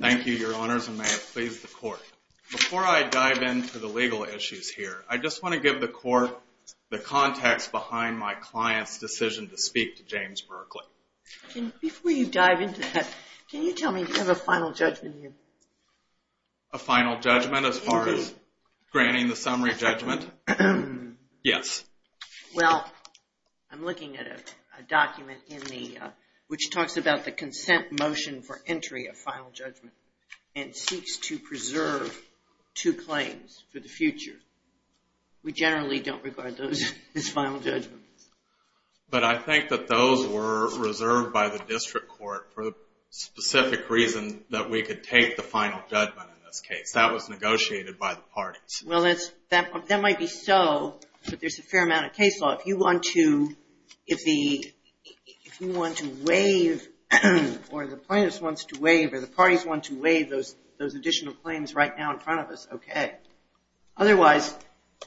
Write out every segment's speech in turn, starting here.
Thank you, your honors, and may it please the court. Before I dive into the legal issues here, I just want to give the court the context behind my client's decision to speak to James Berkley. Before you dive into that, can you tell me you have a final judgment here? A final judgment as far as granting the summary judgment? Yes. Well, I'm looking at a document which talks about the consent motion for entry of final judgment and seeks to preserve two claims for the future. We generally don't regard those as final judgments. But I think that those were reserved by the district court for the specific reason that we could take the final judgment in this case. That was negotiated by the parties. Well, that might be so, but there's a fair amount of case law. If you want to waive or the plaintiff wants to waive or the parties want to waive those additional claims right now in front of us, okay. Otherwise,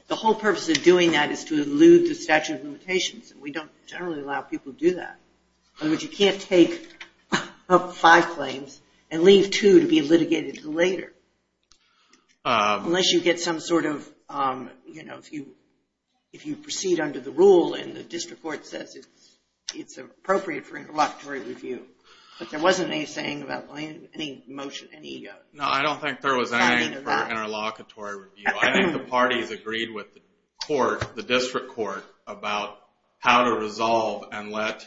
the whole purpose of doing that is to elude the statute of limitations, and we don't generally allow people to do that. In other words, you can't take five claims and leave two to be litigated later unless you get some sort of, you know, if you proceed under the rule and the district court says it's appropriate for interlocutory review. But there wasn't any saying about any motion, any egos. No, I don't think there was any for interlocutory review. I think the parties agreed with the district court about how to resolve and let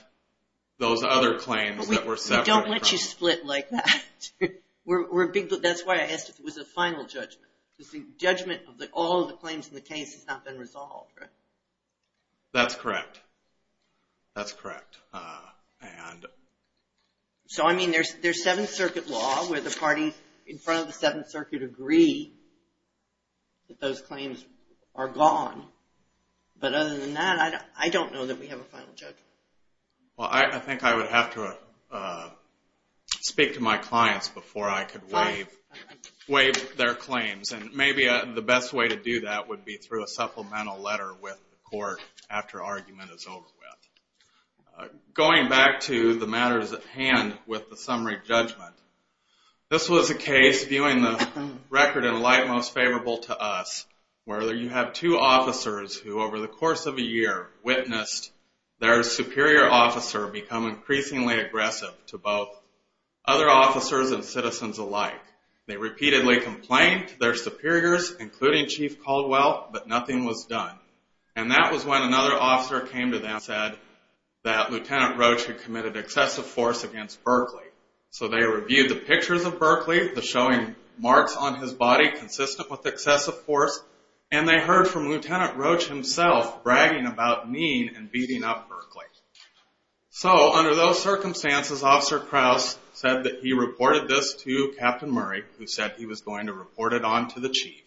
those other claims that were separate. We don't let you split like that. That's why I asked if it was a final judgment. Judgment of all the claims in the case has not been resolved, right? That's correct. That's correct. So, I mean, there's Seventh Circuit law where the parties in front of the Seventh Circuit agree that those claims are gone. But other than that, I don't know that we have a final judgment. Well, I think I would have to speak to my clients before I could waive their claims. And maybe the best way to do that would be through a supplemental letter with the court after argument is over with. Going back to the matters at hand with the summary judgment, this was a case viewing the record in light most favorable to us where you have two officers who over the course of a year witnessed their superior officer become increasingly aggressive to both other officers and citizens alike. They repeatedly complained to their superiors, including Chief Caldwell, but nothing was done. And that was when another officer came to them and said that Lieutenant Roach had committed excessive force against Berkeley. So they reviewed the pictures of Berkeley, the showing marks on his body consistent with excessive force, and they heard from Lieutenant Roach himself bragging about mean and beating up Berkeley. So under those circumstances, Officer Krause said that he reported this to Captain Murray, who said he was going to report it on to the chief.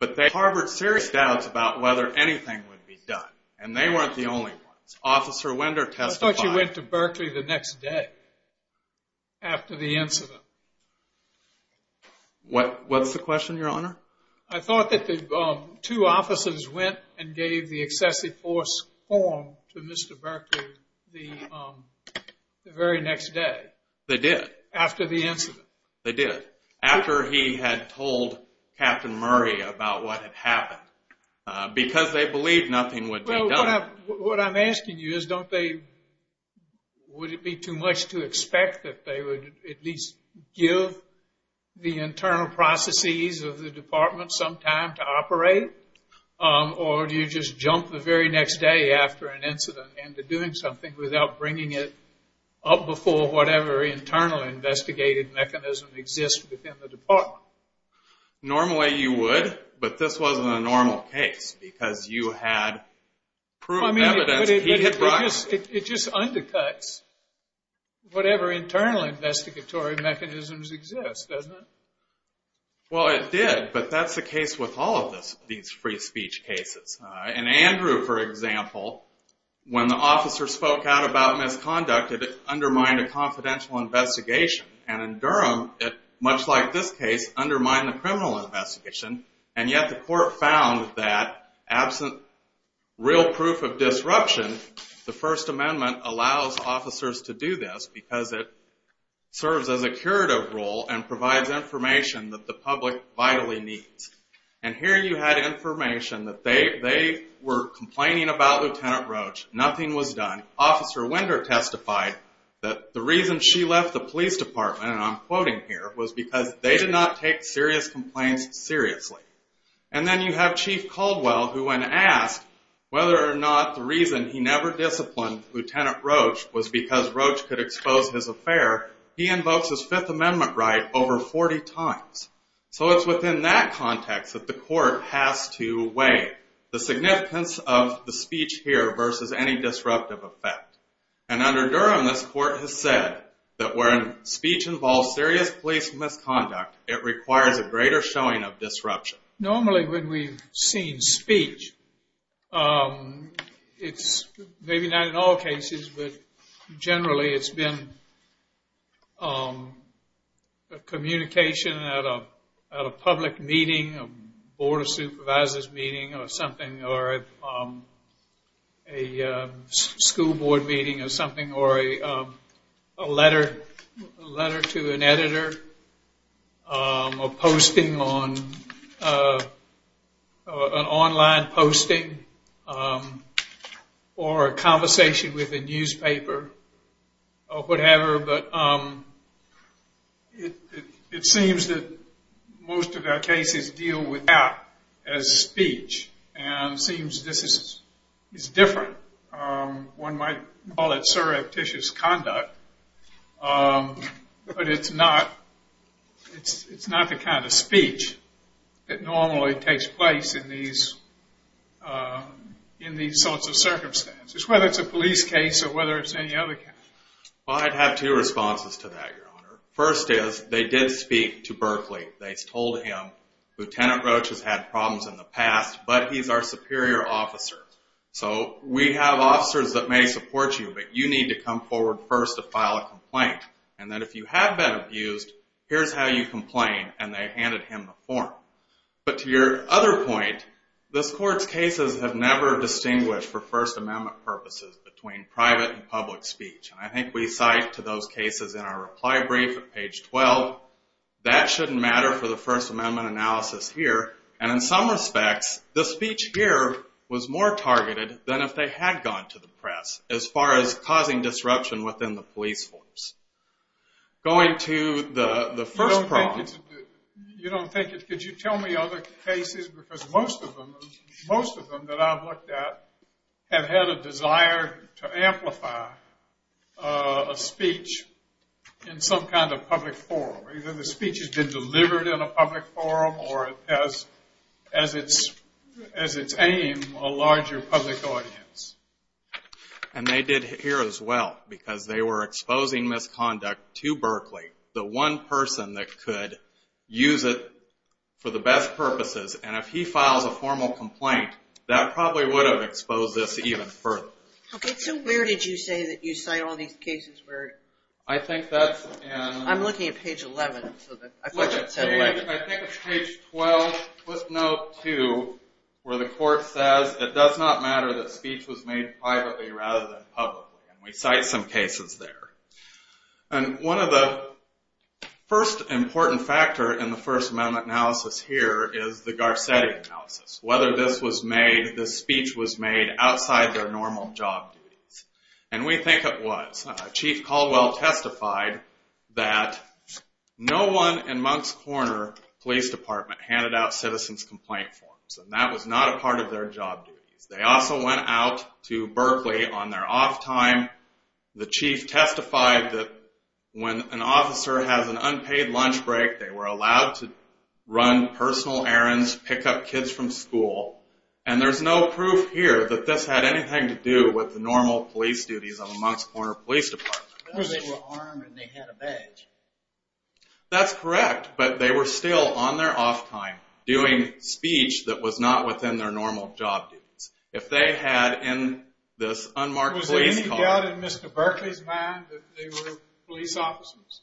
But they harbored serious doubts about whether anything would be done, and they weren't the only ones. Officer Winder testified. I thought you went to Berkeley the next day after the incident. What's the question, Your Honor? I thought that the two officers went and gave the excessive force form to Mr. Berkeley the very next day. They did? After the incident. They did. After he had told Captain Murray about what had happened. Because they believed nothing would be done. Well, what I'm asking you is don't they, would it be too much to expect that they would at least give the internal processes of the department some time to operate? Or do you just jump the very next day after an incident and to doing something without bringing it up before whatever internal investigative mechanism exists within the department? Normally you would, but this wasn't a normal case because you had proven evidence he had brought. It just undercuts whatever internal investigatory mechanisms exist, doesn't it? Well, it did, but that's the case with all of these free speech cases. In Andrew, for example, when the officer spoke out about misconduct, it undermined a confidential investigation. And in Durham, much like this case, undermined the criminal investigation, and yet the court found that absent real proof of disruption, the First Amendment allows officers to do this because it serves as a curative rule and provides information that the public vitally needs. And here you had information that they were complaining about Lieutenant Roach, nothing was done. Officer Winder testified that the reason she left the police department, and I'm quoting here, was because they did not take serious complaints seriously. And then you have Chief Caldwell, who when asked whether or not the reason he never disciplined Lieutenant Roach was because Roach could expose his affair, he invokes his Fifth Amendment right over 40 times. So it's within that context that the court has to weigh the significance of the speech here versus any disruptive effect. And under Durham, this court has said that when speech involves serious police misconduct, it requires a greater showing of disruption. Normally when we've seen speech, it's maybe not in all cases, but generally it's been communication at a public meeting, a board of supervisors meeting or something, or a school board meeting or something, or a letter to an editor, or posting on, an online posting, or a conversation with a newspaper, or whatever, but it seems that most of our cases deal with that as speech, and it seems this is different. One might call it surreptitious conduct, but it's not the kind of speech that normally takes place in these sorts of circumstances, whether it's a police case or whether it's any other kind. Well, I'd have two responses to that, Your Honor. First is, they did speak to Berkeley. They told him, Lieutenant Roach has had problems in the past, but he's our superior officer. So we have officers that may support you, but you need to come forward first to file a complaint. And then if you have been abused, here's how you complain, and they handed him the form. But to your other point, this court's cases have never distinguished for First Amendment purposes between private and public speech, and I think we cite to those cases in our reply brief at page 12, that shouldn't matter for the First Amendment analysis here, and in some respects, the speech here was more targeted than if they had gone to the press as far as causing disruption within the police force. Going to the first problem... You don't think it's... Could you tell me other cases, because most of them that I've looked at have had a desire to amplify a speech in some kind of public forum. Either the speech has been delivered in a public forum, or as its aim, a larger public audience. And they did here as well, because they were exposing misconduct to Berkeley, the one person that could use it for the best purposes, and if he files a formal complaint, that probably would have exposed this even further. Okay, so where did you say that you cite all these cases where... I think that's in... I'm looking at page 11. I think it's page 12, with note 2, where the court says, it does not matter that speech was made privately rather than publicly, and we cite some cases there. And one of the first important factors in the First Amendment analysis here is the Garcetti analysis. Whether this speech was made outside their normal job duties. And we think it was. Chief Caldwell testified that no one in Moncks Corner Police Department handed out citizen's complaint forms, and that was not a part of their job duties. They also went out to Berkeley on their off time. The chief testified that when an officer has an unpaid lunch break, they were allowed to run personal errands, pick up kids from school. And there's no proof here that this had anything to do with the normal police duties of Moncks Corner Police Department. They were armed and they had a badge. That's correct, but they were still on their off time doing speech that was not within their normal job duties. If they had in this unmarked police car... Was there any doubt in Mr. Berkeley's mind that they were police officers?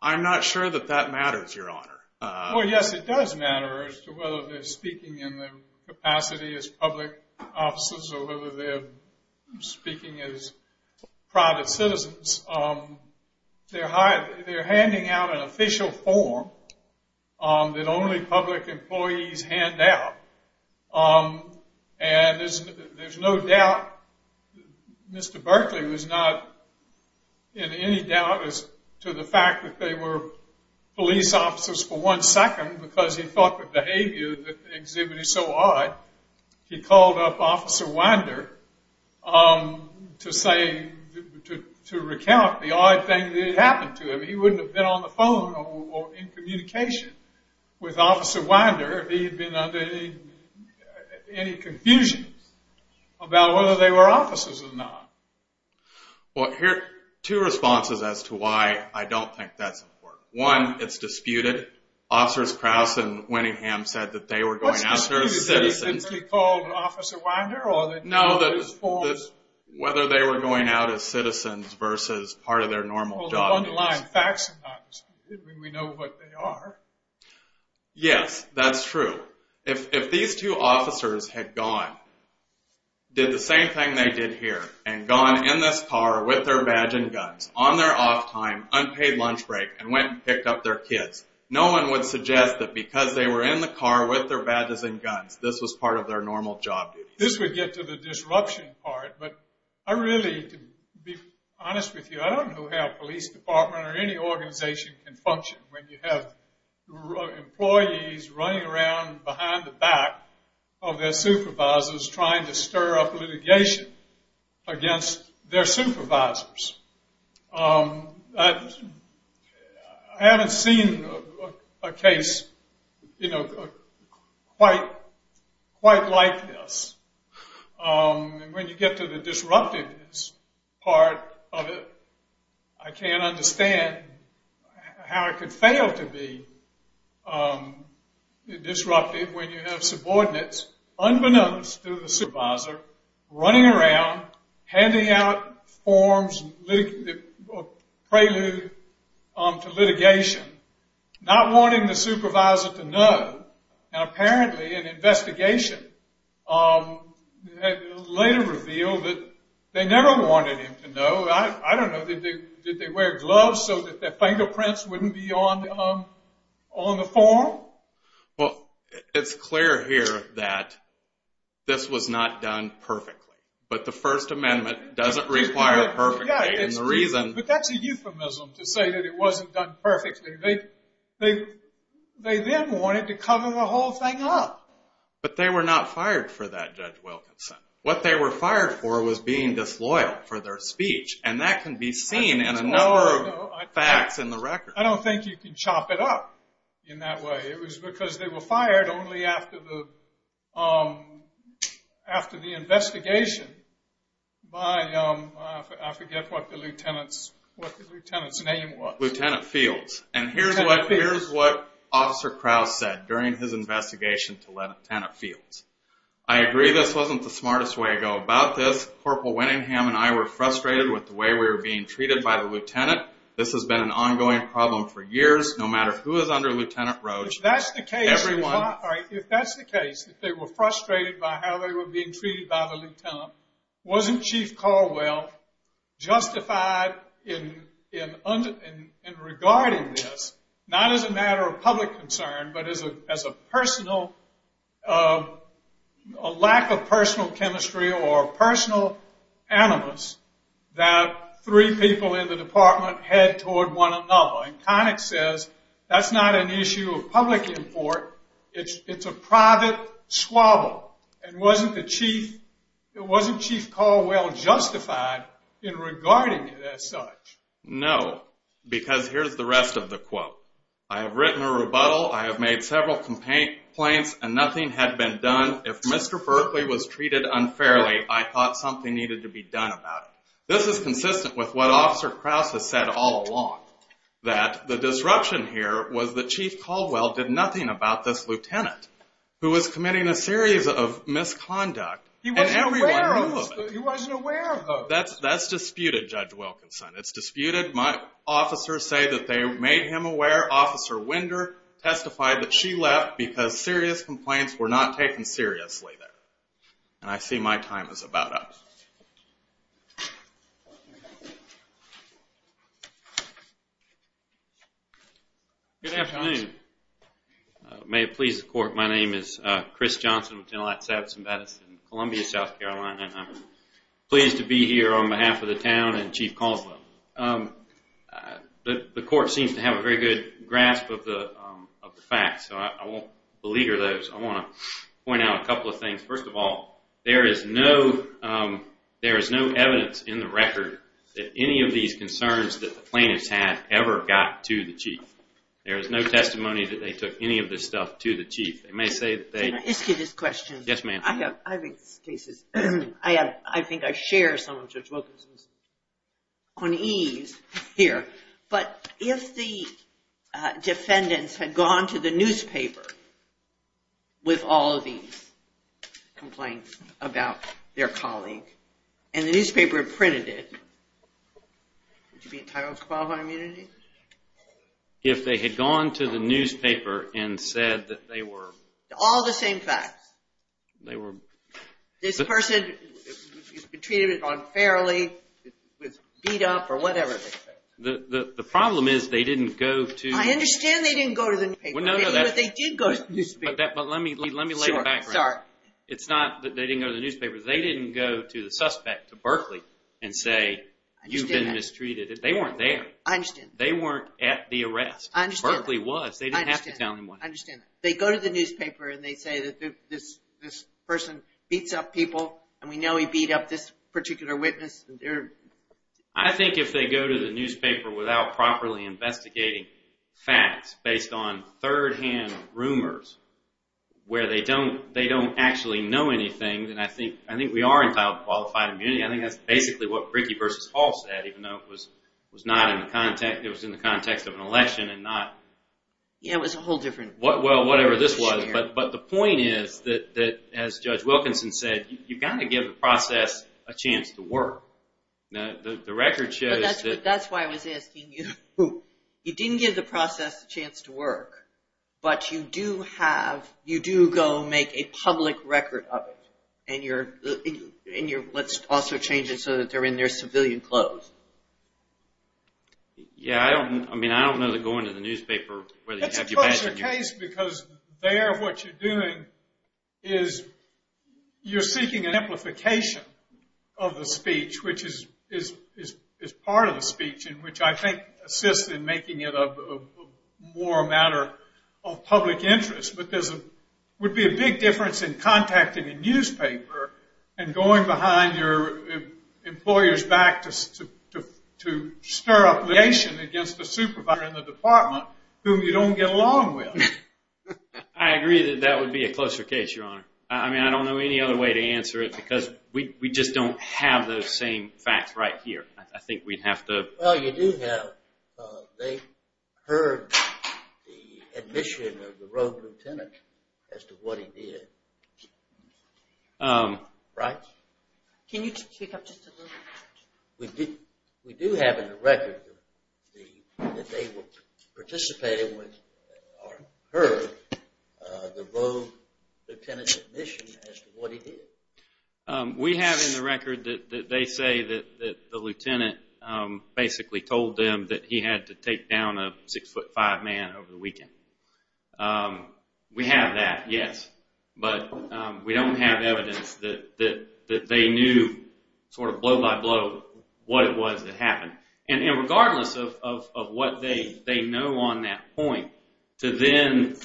I'm not sure that that matters, Your Honor. Well, yes, it does matter as to whether they're speaking in the capacity as public officers or whether they're speaking as private citizens. They're handing out an official form that only public employees hand out. And there's no doubt Mr. Berkeley was not in any doubt as to the fact that they were police officers for one second because he thought the behavior exhibited so odd. He called up Officer Winder to recount the odd thing that had happened to him. He wouldn't have been on the phone or in communication with Officer Winder if he had been under any confusion about whether they were officers or not. Well, here are two responses as to why I don't think that's important. One, it's disputed. Officers Krause and Winningham said that they were going out there as citizens. What's disputed? Is it simply called Officer Winder? No, whether they were going out as citizens versus part of their normal job duties. Well, the underlying facts are not disputed. We know what they are. Yes, that's true. If these two officers had gone, did the same thing they did here, and gone in this car with their badge and guns on their off time, unpaid lunch break, and went and picked up their kids, no one would suggest that because they were in the car with their badges and guns, this was part of their normal job duties. This would get to the disruption part, but I really, to be honest with you, I don't know how a police department or any organization can function when you have employees running around behind the back of their supervisors trying to stir up litigation against their supervisors. I haven't seen a case, you know, quite like this. And when you get to the disruptiveness part of it, I can't understand how it could fail to be disruptive when you have subordinates, unbeknownst to the supervisor, running around, handing out forms, a prelude to litigation, not wanting the supervisor to know. And apparently an investigation later revealed that they never wanted him to know. I don't know. Did they wear gloves so that their fingerprints wouldn't be on the form? Well, it's clear here that this was not done perfectly, but the First Amendment doesn't require perfectly. But that's a euphemism to say that it wasn't done perfectly. They then wanted to cover the whole thing up. But they were not fired for that, Judge Wilkinson. What they were fired for was being disloyal for their speech, and that can be seen in a number of facts in the record. I don't think you can chop it up in that way. It was because they were fired only after the investigation by, I forget what the lieutenant's name was. Lieutenant Fields. And here's what Officer Krause said during his investigation to Lieutenant Fields. I agree this wasn't the smartest way to go about this. Corporal Winningham and I were frustrated with the way we were being treated by the lieutenant. This has been an ongoing problem for years, no matter who is under Lieutenant Roach. If that's the case, if they were frustrated by how they were being treated by the lieutenant, wasn't Chief Caldwell justified in regarding this, not as a matter of public concern but as a lack of personal chemistry or personal animus that three people in the department head toward one another? And Connick says that's not an issue of public import. It's a private squabble. And wasn't Chief Caldwell justified in regarding it as such? No, because here's the rest of the quote. I have written a rebuttal. I have made several complaints, and nothing had been done. If Mr. Berkeley was treated unfairly, I thought something needed to be done about it. This is consistent with what Officer Krause has said all along, that the disruption here was that Chief Caldwell did nothing about this lieutenant who was committing a series of misconduct, and everyone knew of it. He wasn't aware of it. That's disputed, Judge Wilkinson. It's disputed. My officers say that they made him aware. Officer Winder testified that she left because serious complaints were not taken seriously there. And I see my time is about up. Good afternoon. May it please the Court, my name is Chris Johnson, Lieutenant-at-Large Sabotson-Bennis in Columbia, South Carolina, and I'm pleased to be here on behalf of the town and Chief Caldwell. The Court seems to have a very good grasp of the facts, so I won't beleaguer those. I want to point out a couple of things. First of all, there is no evidence in the record that any of these concerns that the plaintiffs had ever got to the Chief. There is no testimony that they took any of this stuff to the Chief. Can I ask you this question? Yes, ma'am. I think I share some of Judge Wilkinson's unease here, but if the defendants had gone to the newspaper with all of these complaints about their colleague and the newspaper had printed it, would you be entitled to qualifying immunity? If they had gone to the newspaper and said that they were... This person has been treated unfairly, was beat up, or whatever. The problem is they didn't go to... I understand they didn't go to the newspaper. But let me lay the background. It's not that they didn't go to the newspaper. They didn't go to the suspect, to Berkeley, and say, you've been mistreated. They weren't there. I understand. They weren't at the arrest. Berkeley was. They didn't have to tell anyone. I understand. They go to the newspaper and they say, this person beats up people, and we know he beat up this particular witness. I think if they go to the newspaper without properly investigating facts based on third-hand rumors where they don't actually know anything, then I think we are entitled to qualified immunity. I think that's basically what Rickey v. Hall said, even though it was in the context of an election and not... Yeah, it was a whole different... Well, whatever this was, but the point is that, as Judge Wilkinson said, you've got to give the process a chance to work. The record shows that... That's why I was asking you. You didn't give the process a chance to work, but you do go make a public record of it, and you're... Let's also change it so that they're in their civilian clothes. Yeah, I don't know that going to the newspaper where they have you... That's a closer case, because there what you're doing is you're seeking an amplification of the speech, which is part of the speech, and which I think assists in making it more a matter of public interest. But there would be a big difference in contacting a newspaper and going behind your employer's back to stir up litigation against the supervisor in the department whom you don't get along with. I agree that that would be a closer case, Your Honor. I mean, I don't know any other way to answer it, because we just don't have those same facts right here. I think we'd have to... Well, you do have... They heard the admission of the rogue lieutenant as to what he did. Right? Can you speak up just a little bit? We do have in the record that they participated with or heard the rogue lieutenant's admission as to what he did. We have in the record that they say that the lieutenant basically told them that he had to take down a 6'5 man over the weekend. We have that, yes. But we don't have evidence that they knew sort of blow by blow what it was that happened. And regardless of what they know on that point, to then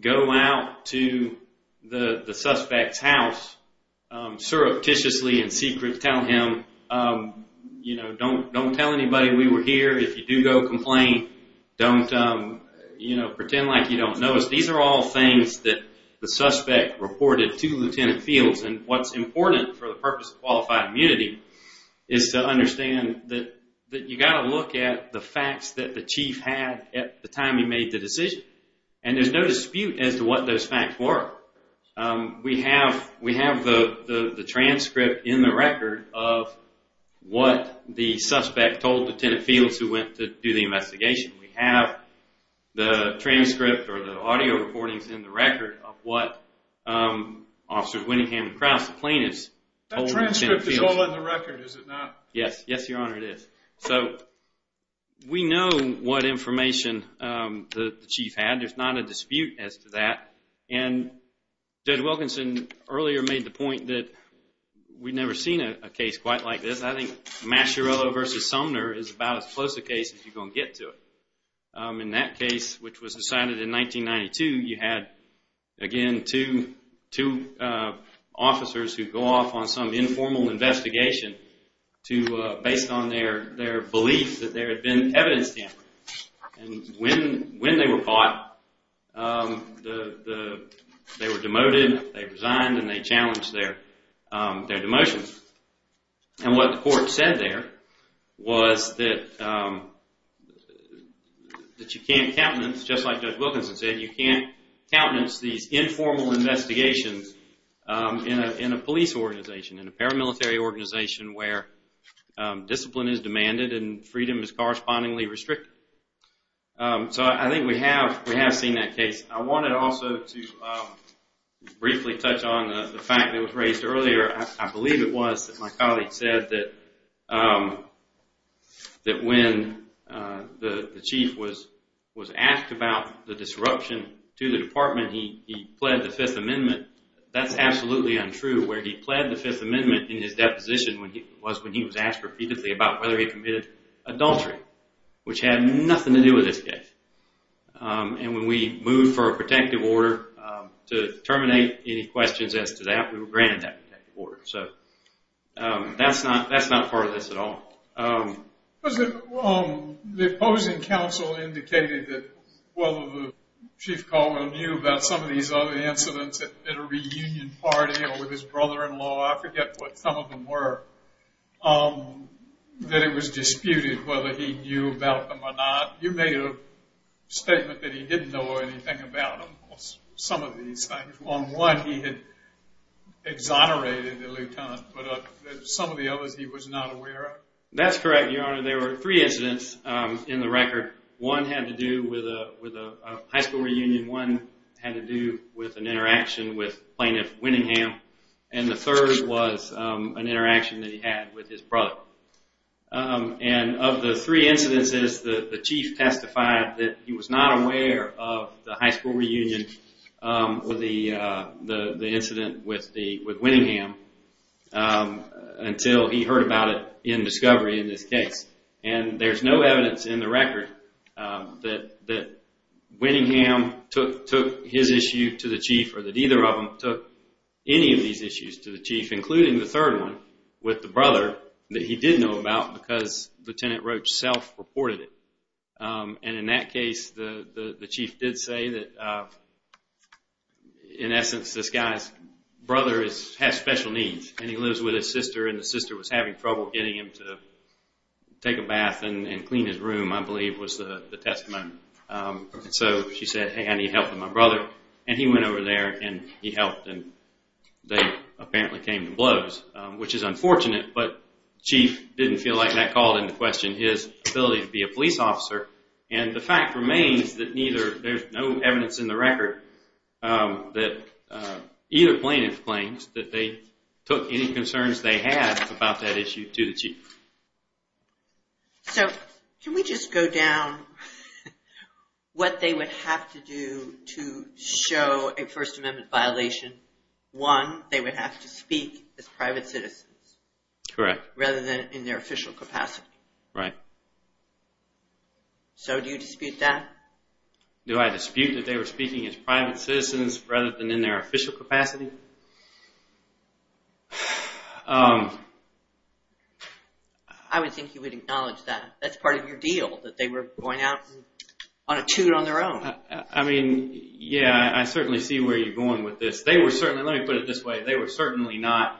go out to the suspect's house surreptitiously in secret, tell him, you know, don't tell anybody we were here. If you do go, complain. Don't, you know, pretend like you don't know us. These are all things that the suspect reported to Lieutenant Fields. And what's important for the purpose of qualified immunity is to understand that you've got to look at the facts that the chief had at the time he made the decision. And there's no dispute as to what those facts were. We have the transcript in the record of what the suspect told Lieutenant Fields who went to do the investigation. We have the transcript or the audio recordings in the record of what Officer Winningham and Krause, the plaintiffs, told Lieutenant Fields. It's all in the record, is it not? Yes, yes, Your Honor, it is. So we know what information the chief had. There's not a dispute as to that. And Judge Wilkinson earlier made the point that we've never seen a case quite like this. I think Masciarello v. Sumner is about as close a case as you're going to get to it. In that case, which was decided in 1992, you had, again, two officers who go off on some informal investigation based on their belief that there had been evidence tampering. And when they were caught, they were demoted, they resigned, and they challenged their demotion. And what the court said there was that you can't countenance, just like Judge Wilkinson said, you can't countenance these informal investigations in a police organization, in a paramilitary organization where discipline is demanded and freedom is correspondingly restricted. So I think we have seen that case. I wanted also to briefly touch on the fact that was raised earlier. I believe it was that my colleague said that when the chief was asked about the disruption to the department, he pled the Fifth Amendment. That's absolutely untrue. Where he pled the Fifth Amendment in his deposition was when he was asked repeatedly about whether he committed adultery, which had nothing to do with this case. And when we moved for a protective order to terminate any questions as to that, we were granted that order. So that's not part of this at all. The opposing counsel indicated that although the Chief Caldwell knew about some of these other incidents at a reunion party or with his brother-in-law, I forget what some of them were, that it was disputed whether he knew about them or not. You made a statement that he didn't know anything about some of these things. On one, he had exonerated the lieutenant, but some of the others he was not aware of? That's correct, Your Honor. There were three incidents in the record. One had to do with a high school reunion. One had to do with an interaction with Plaintiff Winningham. And the third was an interaction that he had with his brother. And of the three incidences, the Chief testified that he was not aware of the high school reunion or the incident with Winningham until he heard about it in discovery in this case. And there's no evidence in the record that Winningham took his issue to the Chief or that either of them took any of these issues to the Chief, including the third one with the brother that he did know about because Lieutenant Roach self-reported it. And in that case, the Chief did say that in essence this guy's brother has special needs and he lives with his sister and the sister was having trouble getting him to take a bath and clean his room, I believe was the testimony. So she said, hey, I need help with my brother. And he went over there and he helped and they apparently came to blows, which is unfortunate, but the Chief didn't feel like that called into question his ability to be a police officer. And the fact remains that there's no evidence in the record that either plaintiff claims that they took any concerns they had about that issue to the Chief. So can we just go down what they would have to do to show a First Amendment violation? One, they would have to speak as private citizens. Correct. Rather than in their official capacity. Right. So do you dispute that? Do I dispute that they were speaking as private citizens rather than in their official capacity? I would think you would acknowledge that. That's part of your deal, that they were going out on a toot on their own. I mean, yeah, I certainly see where you're going with this. They were certainly, let me put it this way, they were certainly not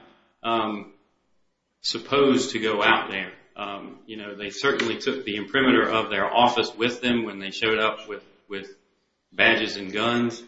supposed to go out there. They certainly took the imprimatur of their office with them when they showed up with badges and guns.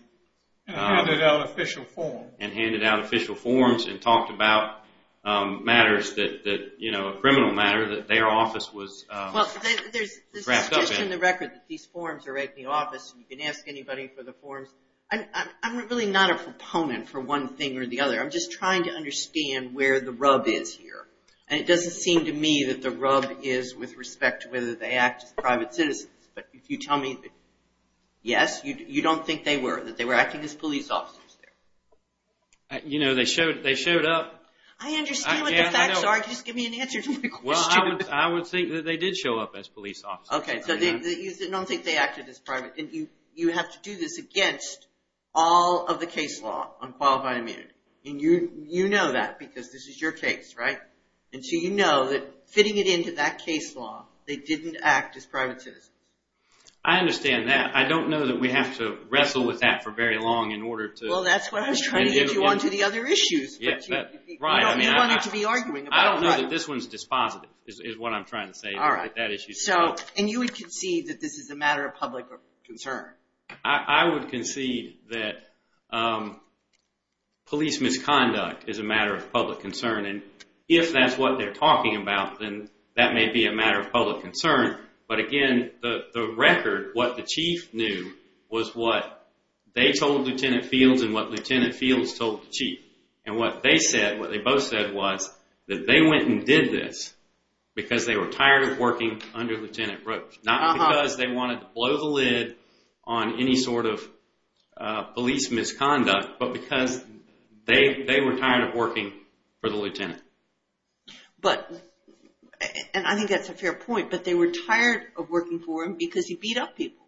And handed out official forms. And handed out official forms and talked about matters that, you know, a criminal matter that their office was grasped up in. Well, it's just in the record that these forms are at the office. You can ask anybody for the forms. I'm really not a proponent for one thing or the other. I'm just trying to understand where the rub is here. And it doesn't seem to me that the rub is with respect to whether they act as private citizens. But if you tell me yes, you don't think they were. That they were acting as police officers there. You know, they showed up. I understand what the facts are, just give me an answer to my question. Well, I would think that they did show up as police officers. Okay, so you don't think they acted as private. You have to do this against all of the case law on qualified immunity. And you know that because this is your case, right? And so you know that fitting it into that case law, they didn't act as private citizens. I understand that. I don't know that we have to wrestle with that for very long in order to... Well, that's what I was trying to get you on to the other issues. You wanted to be arguing. I don't know that this one's dispositive, is what I'm trying to say. And you would concede that this is a matter of public concern. I would concede that police misconduct is a matter of public concern. And if that's what they're talking about, then that may be a matter of public concern. But again, the record, what the chief knew, was what they told Lieutenant Fields and what Lieutenant Fields told the chief. And what they said, what they both said was that they went and did this because they were tired of working under Lieutenant Brooks. Not because they wanted to blow the lid on any sort of police misconduct, but because they were tired of working for the lieutenant. But, and I think that's a fair point, but they were tired of working for him because he beat up people.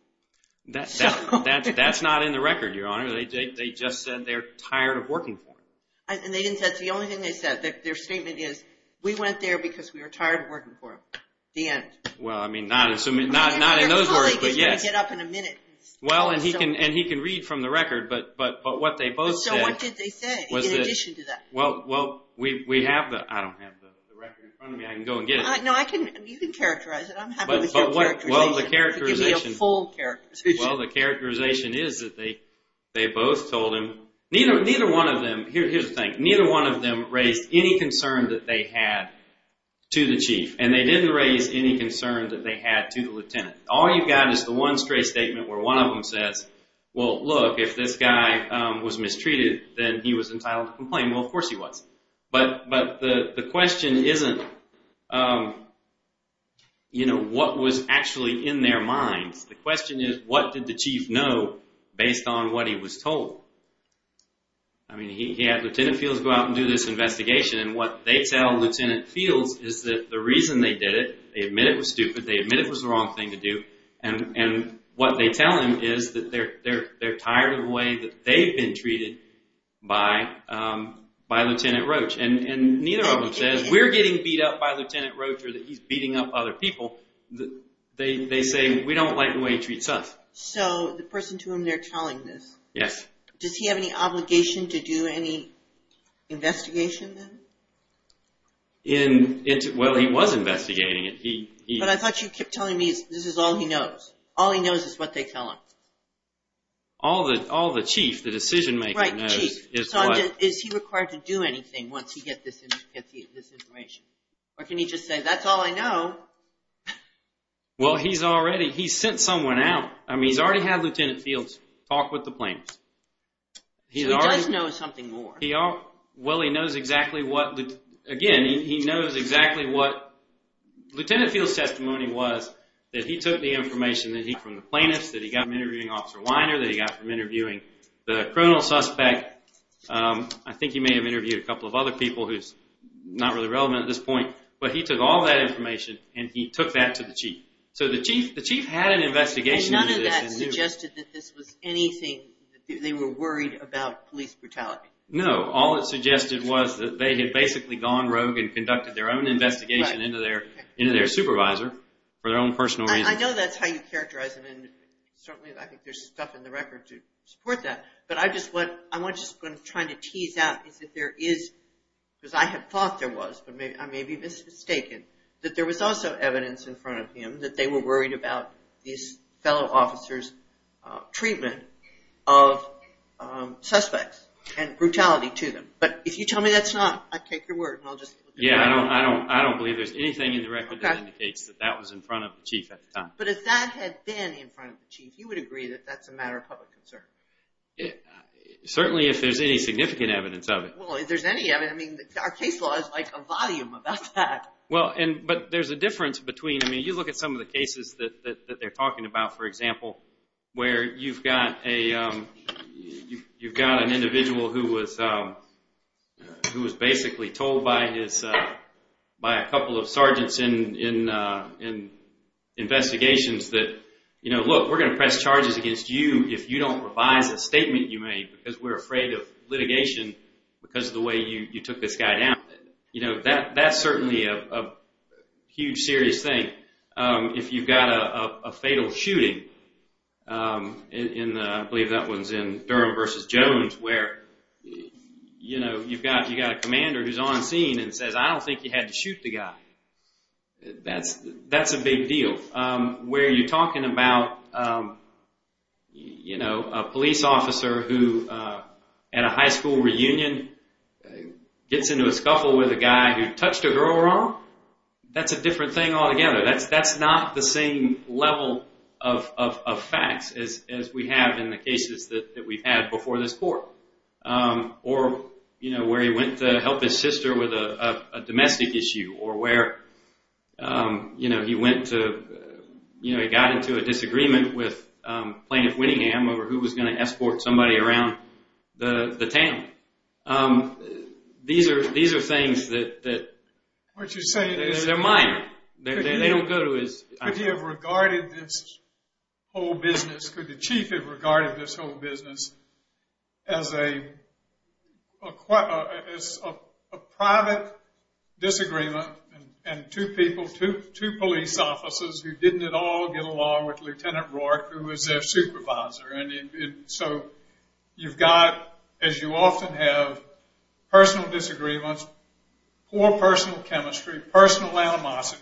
That's not in the record, Your Honor. They just said they're tired of working for him. And that's the only thing they said. Their statement is, we went there because we were tired of working for him. The end. Well, I mean, not in those words, but yes. Your colleague is going to get up in a minute. Well, and he can read from the record, but what they both said... So what did they say in addition to that? Well, we have the... I don't have the record in front of me. I can go and get it. No, you can characterize it. I'm happy with your characterization. Well, the characterization... Give me a full characterization. Well, the characterization is that they both told him... Neither one of them... Here's the thing. Neither one of them raised any concern that they had to the chief. And they didn't raise any concern that they had to the lieutenant. All you've got is the one straight statement where one of them says, well, look, if this guy was mistreated, then he was entitled to complain. Well, of course he was. But the question isn't, you know, what was actually in their minds. The question is, what did the chief know based on what he was told? I mean, he had Lieutenant Fields go out and do this investigation, and what they tell Lieutenant Fields is that the reason they did it, they admit it was stupid, they admit it was the wrong thing to do, and what they tell him is that they're tired of the way that they've been treated by Lieutenant Roach. And neither of them says, we're getting beat up by Lieutenant Roach or that he's beating up other people. They say, we don't like the way he treats us. So the person to whom they're telling this... Yes. Does he have any obligation to do any investigation then? Well, he was investigating it. But I thought you kept telling me this is all he knows. All he knows is what they tell him. All the chief, the decision-maker knows is what... Right, chief. So is he required to do anything once he gets this information? Or can he just say, that's all I know. Well, he's already sent someone out. I mean, he's already had Lieutenant Fields talk with the plaintiffs. So he does know something more. Well, he knows exactly what... Again, he knows exactly what... Lieutenant Fields' testimony was that he took the information that he got from the plaintiffs, that he got from interviewing Officer Weiner, that he got from interviewing the criminal suspect. I think he may have interviewed a couple of other people who's not really relevant at this point. But he took all that information, and he took that to the chief. So the chief had an investigation... And none of that suggested that this was anything... They were worried about police brutality. No. All it suggested was that they had basically gone rogue and conducted their own investigation into their supervisor for their own personal reasons. I know that's how you characterize it, and certainly I think there's stuff in the record to support that. But I just want to try to tease out that there is... Because I had thought there was, but I may be mistaken, that there was also evidence in front of him that they were worried about these fellow officers' treatment of suspects and brutality to them. But if you tell me that's not, I take your word. Yeah, I don't believe there's anything in the record that indicates that that was in front of the chief at the time. But if that had been in front of the chief, you would agree that that's a matter of public concern? Certainly, if there's any significant evidence of it. Well, if there's any evidence... I mean, our case law is like a volume about that. But there's a difference between... I mean, you look at some of the cases that they're talking about, for example, where you've got an individual who was basically told by a couple of sergeants in investigations that, look, we're going to press charges against you if you don't revise a statement you made because we're afraid of litigation because of the way you took this guy down. That's certainly a huge, serious thing. If you've got a fatal shooting, I believe that one's in Durham v. Jones, where you've got a commander who's on scene and says, I don't think you had to shoot the guy. That's a big deal. Where you're talking about a police officer who, at a high school reunion, gets into a scuffle with a guy who touched a girl wrong, that's a different thing altogether. That's not the same level of facts as we have in the cases that we've had before this court. Or where he went to help his sister with a domestic issue, or where he got into a disagreement with Plaintiff Winningham over who was going to escort somebody around the town. These are things that... Could he have regarded this whole business, could the chief have regarded this whole business as a private disagreement and two people, two police officers who didn't at all get along with Lt. Roark, who was their supervisor. So you've got, as you often have, personal disagreements, poor personal chemistry, personal animosity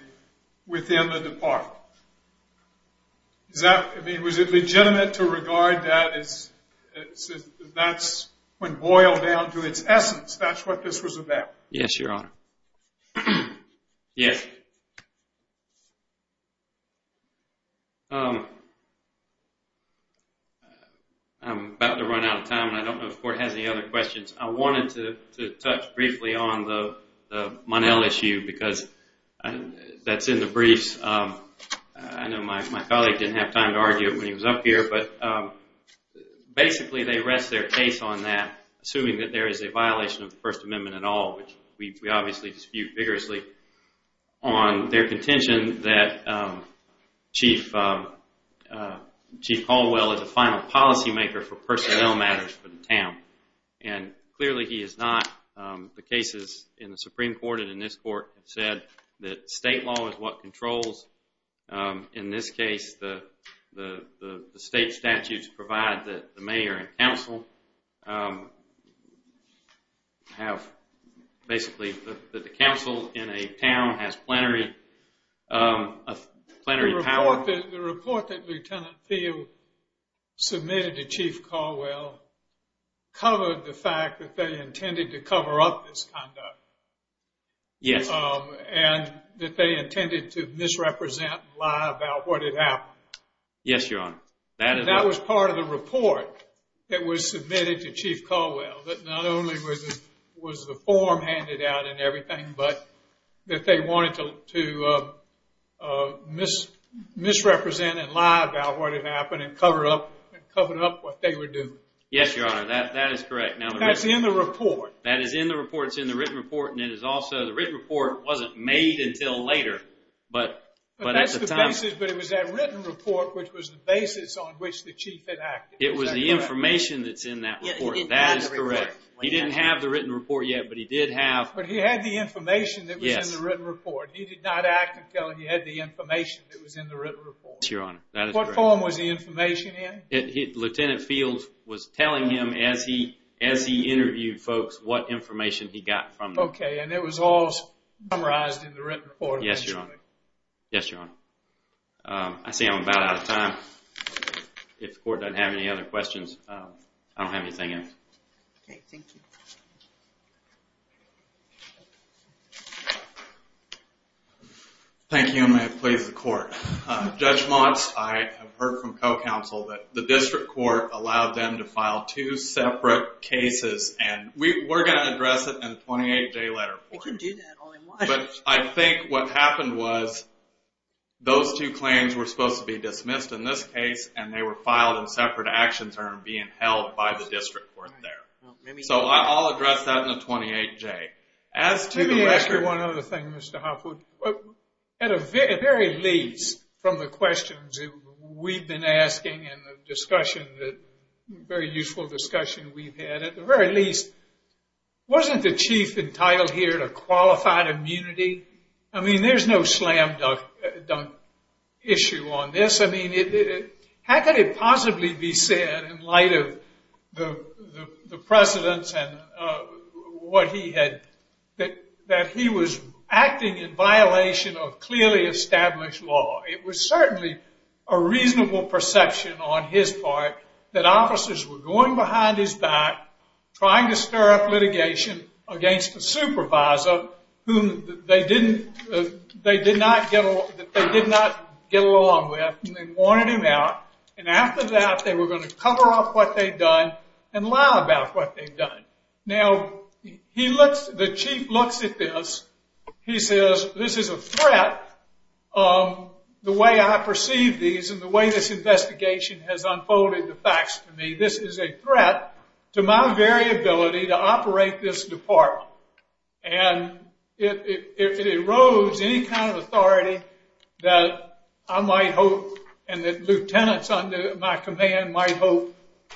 within the department. Was it legitimate to regard that as... That's, when boiled down to its essence, that's what this was about. Yes, Your Honor. Yes. I'm about to run out of time, and I don't know if the court has any other questions. I wanted to touch briefly on the Monell issue because that's in the briefs. I know my colleague didn't have time to argue it when he was up here, but basically they rest their case on that, assuming that there is a violation of the First Amendment at all, which we obviously dispute vigorously, on their contention that Chief Caldwell is a final policymaker for personnel matters for the town. And clearly he is not. The cases in the Supreme Court and in this court have said that state law is what controls. In this case, the state statutes provide that the mayor and council have, basically, that the council in a town has plenary power. The report that Lieutenant Thiel submitted to Chief Caldwell covered the fact that they intended to cover up this conduct. Yes. And that they intended to misrepresent and lie about what had happened. Yes, Your Honor. That was part of the report that was submitted to Chief Caldwell that not only was the form handed out and everything, but that they wanted to misrepresent and lie about what had happened and cover up what they were doing. Yes, Your Honor, that is correct. That's in the report. That is in the report. It's in the written report. The written report wasn't made until later. But it was that written report which was the basis on which the chief had acted. It was the information that's in that report. That is correct. He didn't have the written report yet, but he did have... But he had the information that was in the written report. He did not act until he had the information that was in the written report. Yes, Your Honor, that is correct. What form was the information in? Lieutenant Fields was telling him as he interviewed folks what information he got from them. Okay, and it was all summarized in the written report? Yes, Your Honor. Yes, Your Honor. I see I'm about out of time. If the court doesn't have any other questions, I don't have anything else. Okay, thank you. Thank you, and may it please the court. Judge Monst, I have heard from co-counsel that the district court allowed them to file two separate cases, and we're going to address it in a 28-J letter. We can do that. But I think what happened was those two claims were supposed to be dismissed in this case, and they were filed in separate action terms being held by the district court there. So I'll address that in a 28-J. Let me ask you one other thing, Mr. Hopwood. At the very least, from the questions we've been asking and the discussion, the very useful discussion we've had, at the very least, wasn't the chief entitled here to qualified immunity? I mean, there's no slam-dunk issue on this. I mean, how could it possibly be said in light of the precedents that he was acting in violation of clearly established law? It was certainly a reasonable perception on his part that officers were going behind his back, trying to stir up litigation against a supervisor whom they did not get along with, and they wanted him out. And after that, they were going to cover up what they'd done and lie about what they'd done. Now, the chief looks at this. He says, this is a threat. The way I perceive these and the way this investigation has unfolded the facts to me, this is a threat to my very ability to operate this department. And it erodes any kind of authority that I might hope and that lieutenants under my command might hope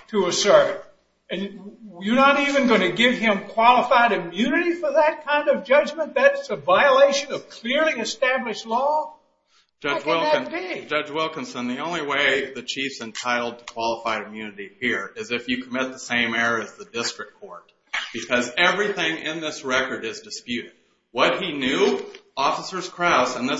to assert. And you're not even going to give him qualified immunity for that kind of judgment? That's a violation of clearly established law? How can that be? Judge Wilkinson, the only way the chief's entitled to qualified immunity here is if you commit the same error as the district court, because everything in this record is disputed. What he knew, Officers Krauss, there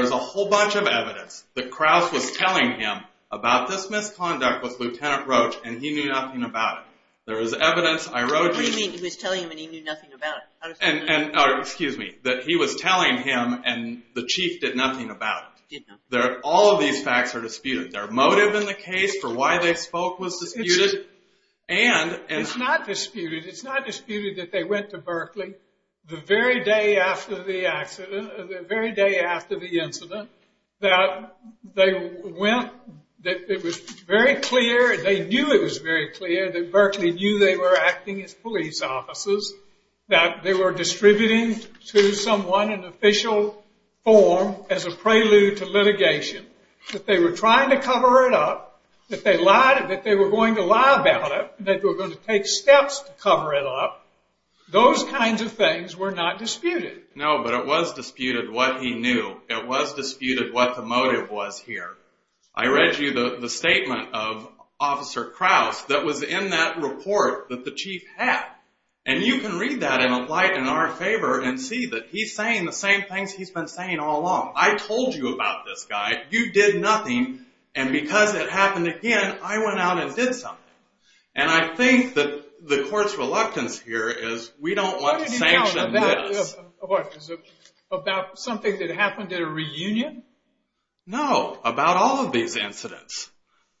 is a whole bunch of evidence that Krauss was telling him about this misconduct with Lieutenant Roach and he knew nothing about it. There is evidence... What do you mean he was telling him and he knew nothing about it? Excuse me, that he was telling him and the chief did nothing about it. All of these facts are disputed. Their motive in the case for why they spoke was disputed. It's not disputed. It's not disputed that they went to Berkeley the very day after the incident that it was very clear, they knew it was very clear that Berkeley knew they were acting as police officers, that they were distributing to someone an official form as a prelude to litigation, that they were trying to cover it up, that they were going to lie about it, that they were going to take steps to cover it up. Those kinds of things were not disputed. No, but it was disputed what he knew. It was disputed what the motive was here. I read you the statement of Officer Krause that was in that report that the chief had and you can read that and apply it in our favor and see that he's saying the same things he's been saying all along. I told you about this guy. You did nothing and because it happened again, I went out and did something. And I think that the court's reluctance here is we don't want to sanction this. About something that happened at a reunion? No, about all of these incidents.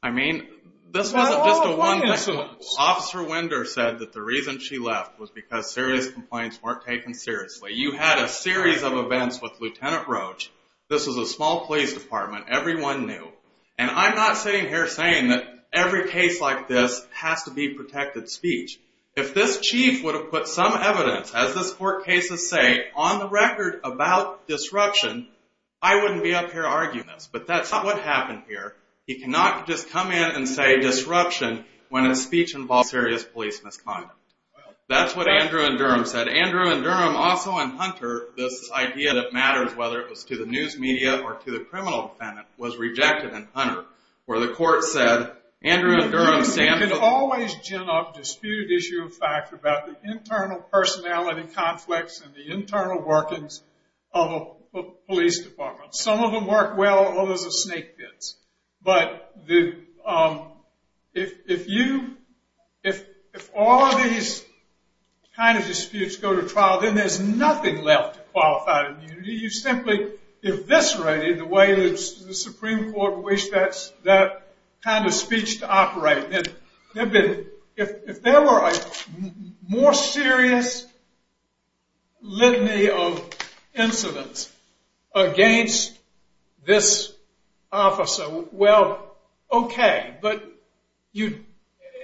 I mean, this wasn't just a one-time incident. Officer Winder said that the reason she left was because serious complaints weren't taken seriously. You had a series of events with Lieutenant Roach. This was a small police department. Everyone knew. And I'm not sitting here saying that every case like this has to be protected speech. If this chief would have put some evidence, as this court cases say, on the record about disruption, I wouldn't be up here arguing this. But that's not what happened here. He cannot just come in and say disruption when a speech involves serious police misconduct. That's what Andrew and Durham said. Andrew and Durham also in Hunter, this idea that matters whether it was to the news media or to the criminal defendant, was rejected in Hunter You can always gin up disputed issue of fact about the internal personality conflicts and the internal workings of a police department. Some of them work well, others are snake pits. But if all of these kind of disputes go to trial, then there's nothing left to qualify as immunity. You've simply eviscerated the way the Supreme Court wished that kind of speech to operate. If there were a more serious litany of incidents against this officer, well, OK. But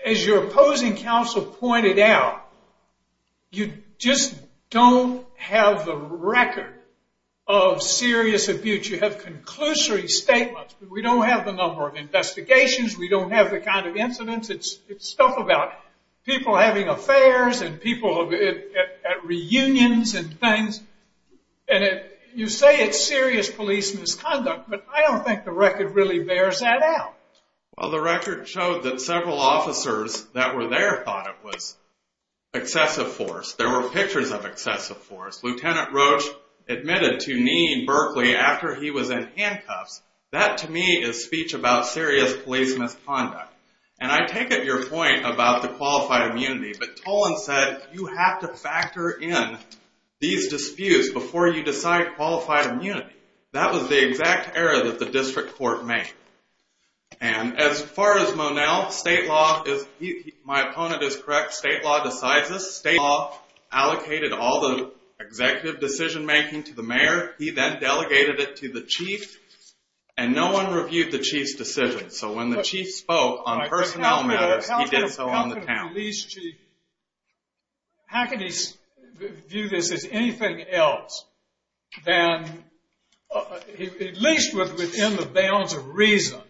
as your opposing counsel pointed out, you just don't have the record of serious abuse. You have conclusory statements, but we don't have the number of investigations, we don't have the kind of incidents. It's stuff about people having affairs and people at reunions and things. And you say it's serious police misconduct, but I don't think the record really bears that out. Well, the record showed that several officers that were there thought it was excessive force. There were pictures of excessive force. Lieutenant Roach admitted to needing Berkeley after he was in handcuffs. That, to me, is speech about serious police misconduct. And I take it your point about the qualified immunity, but Toland said you have to factor in these disputes before you decide qualified immunity. That was the exact error that the district court made. And as far as Monell, state law, my opponent is correct, state law decides this. State law allocated all the executive decision-making to the mayor. He then delegated it to the chief, and no one reviewed the chief's decision. So when the chief spoke on personnel matters, he did so on the town. How can he view this as anything else than, at least within the bounds of reason,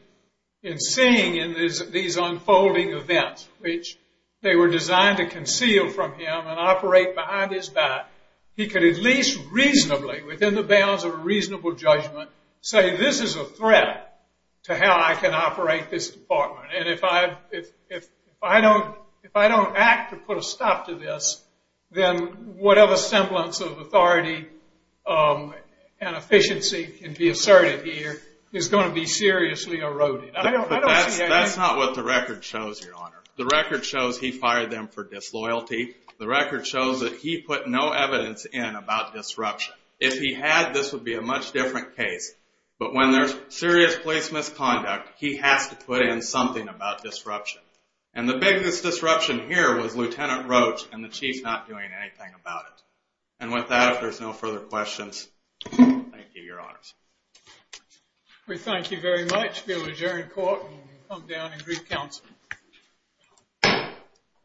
in seeing these unfolding events, which they were designed to conceal from him and operate behind his back, he could at least reasonably, within the bounds of a reasonable judgment, say this is a threat to how I can operate this department. And if I don't act to put a stop to this, then whatever semblance of authority and efficiency can be asserted here is going to be seriously eroded. But that's not what the record shows, Your Honor. The record shows he fired them for disloyalty. The record shows that he put no evidence in about disruption. If he had, this would be a much different case. But when there's serious police misconduct, he has to put in something about disruption. And the biggest disruption here was Lieutenant Roach and the chief not doing anything about it. And with that, if there's no further questions, thank you, Your Honors. We thank you very much. We'll adjourn court and come down and greet counsel.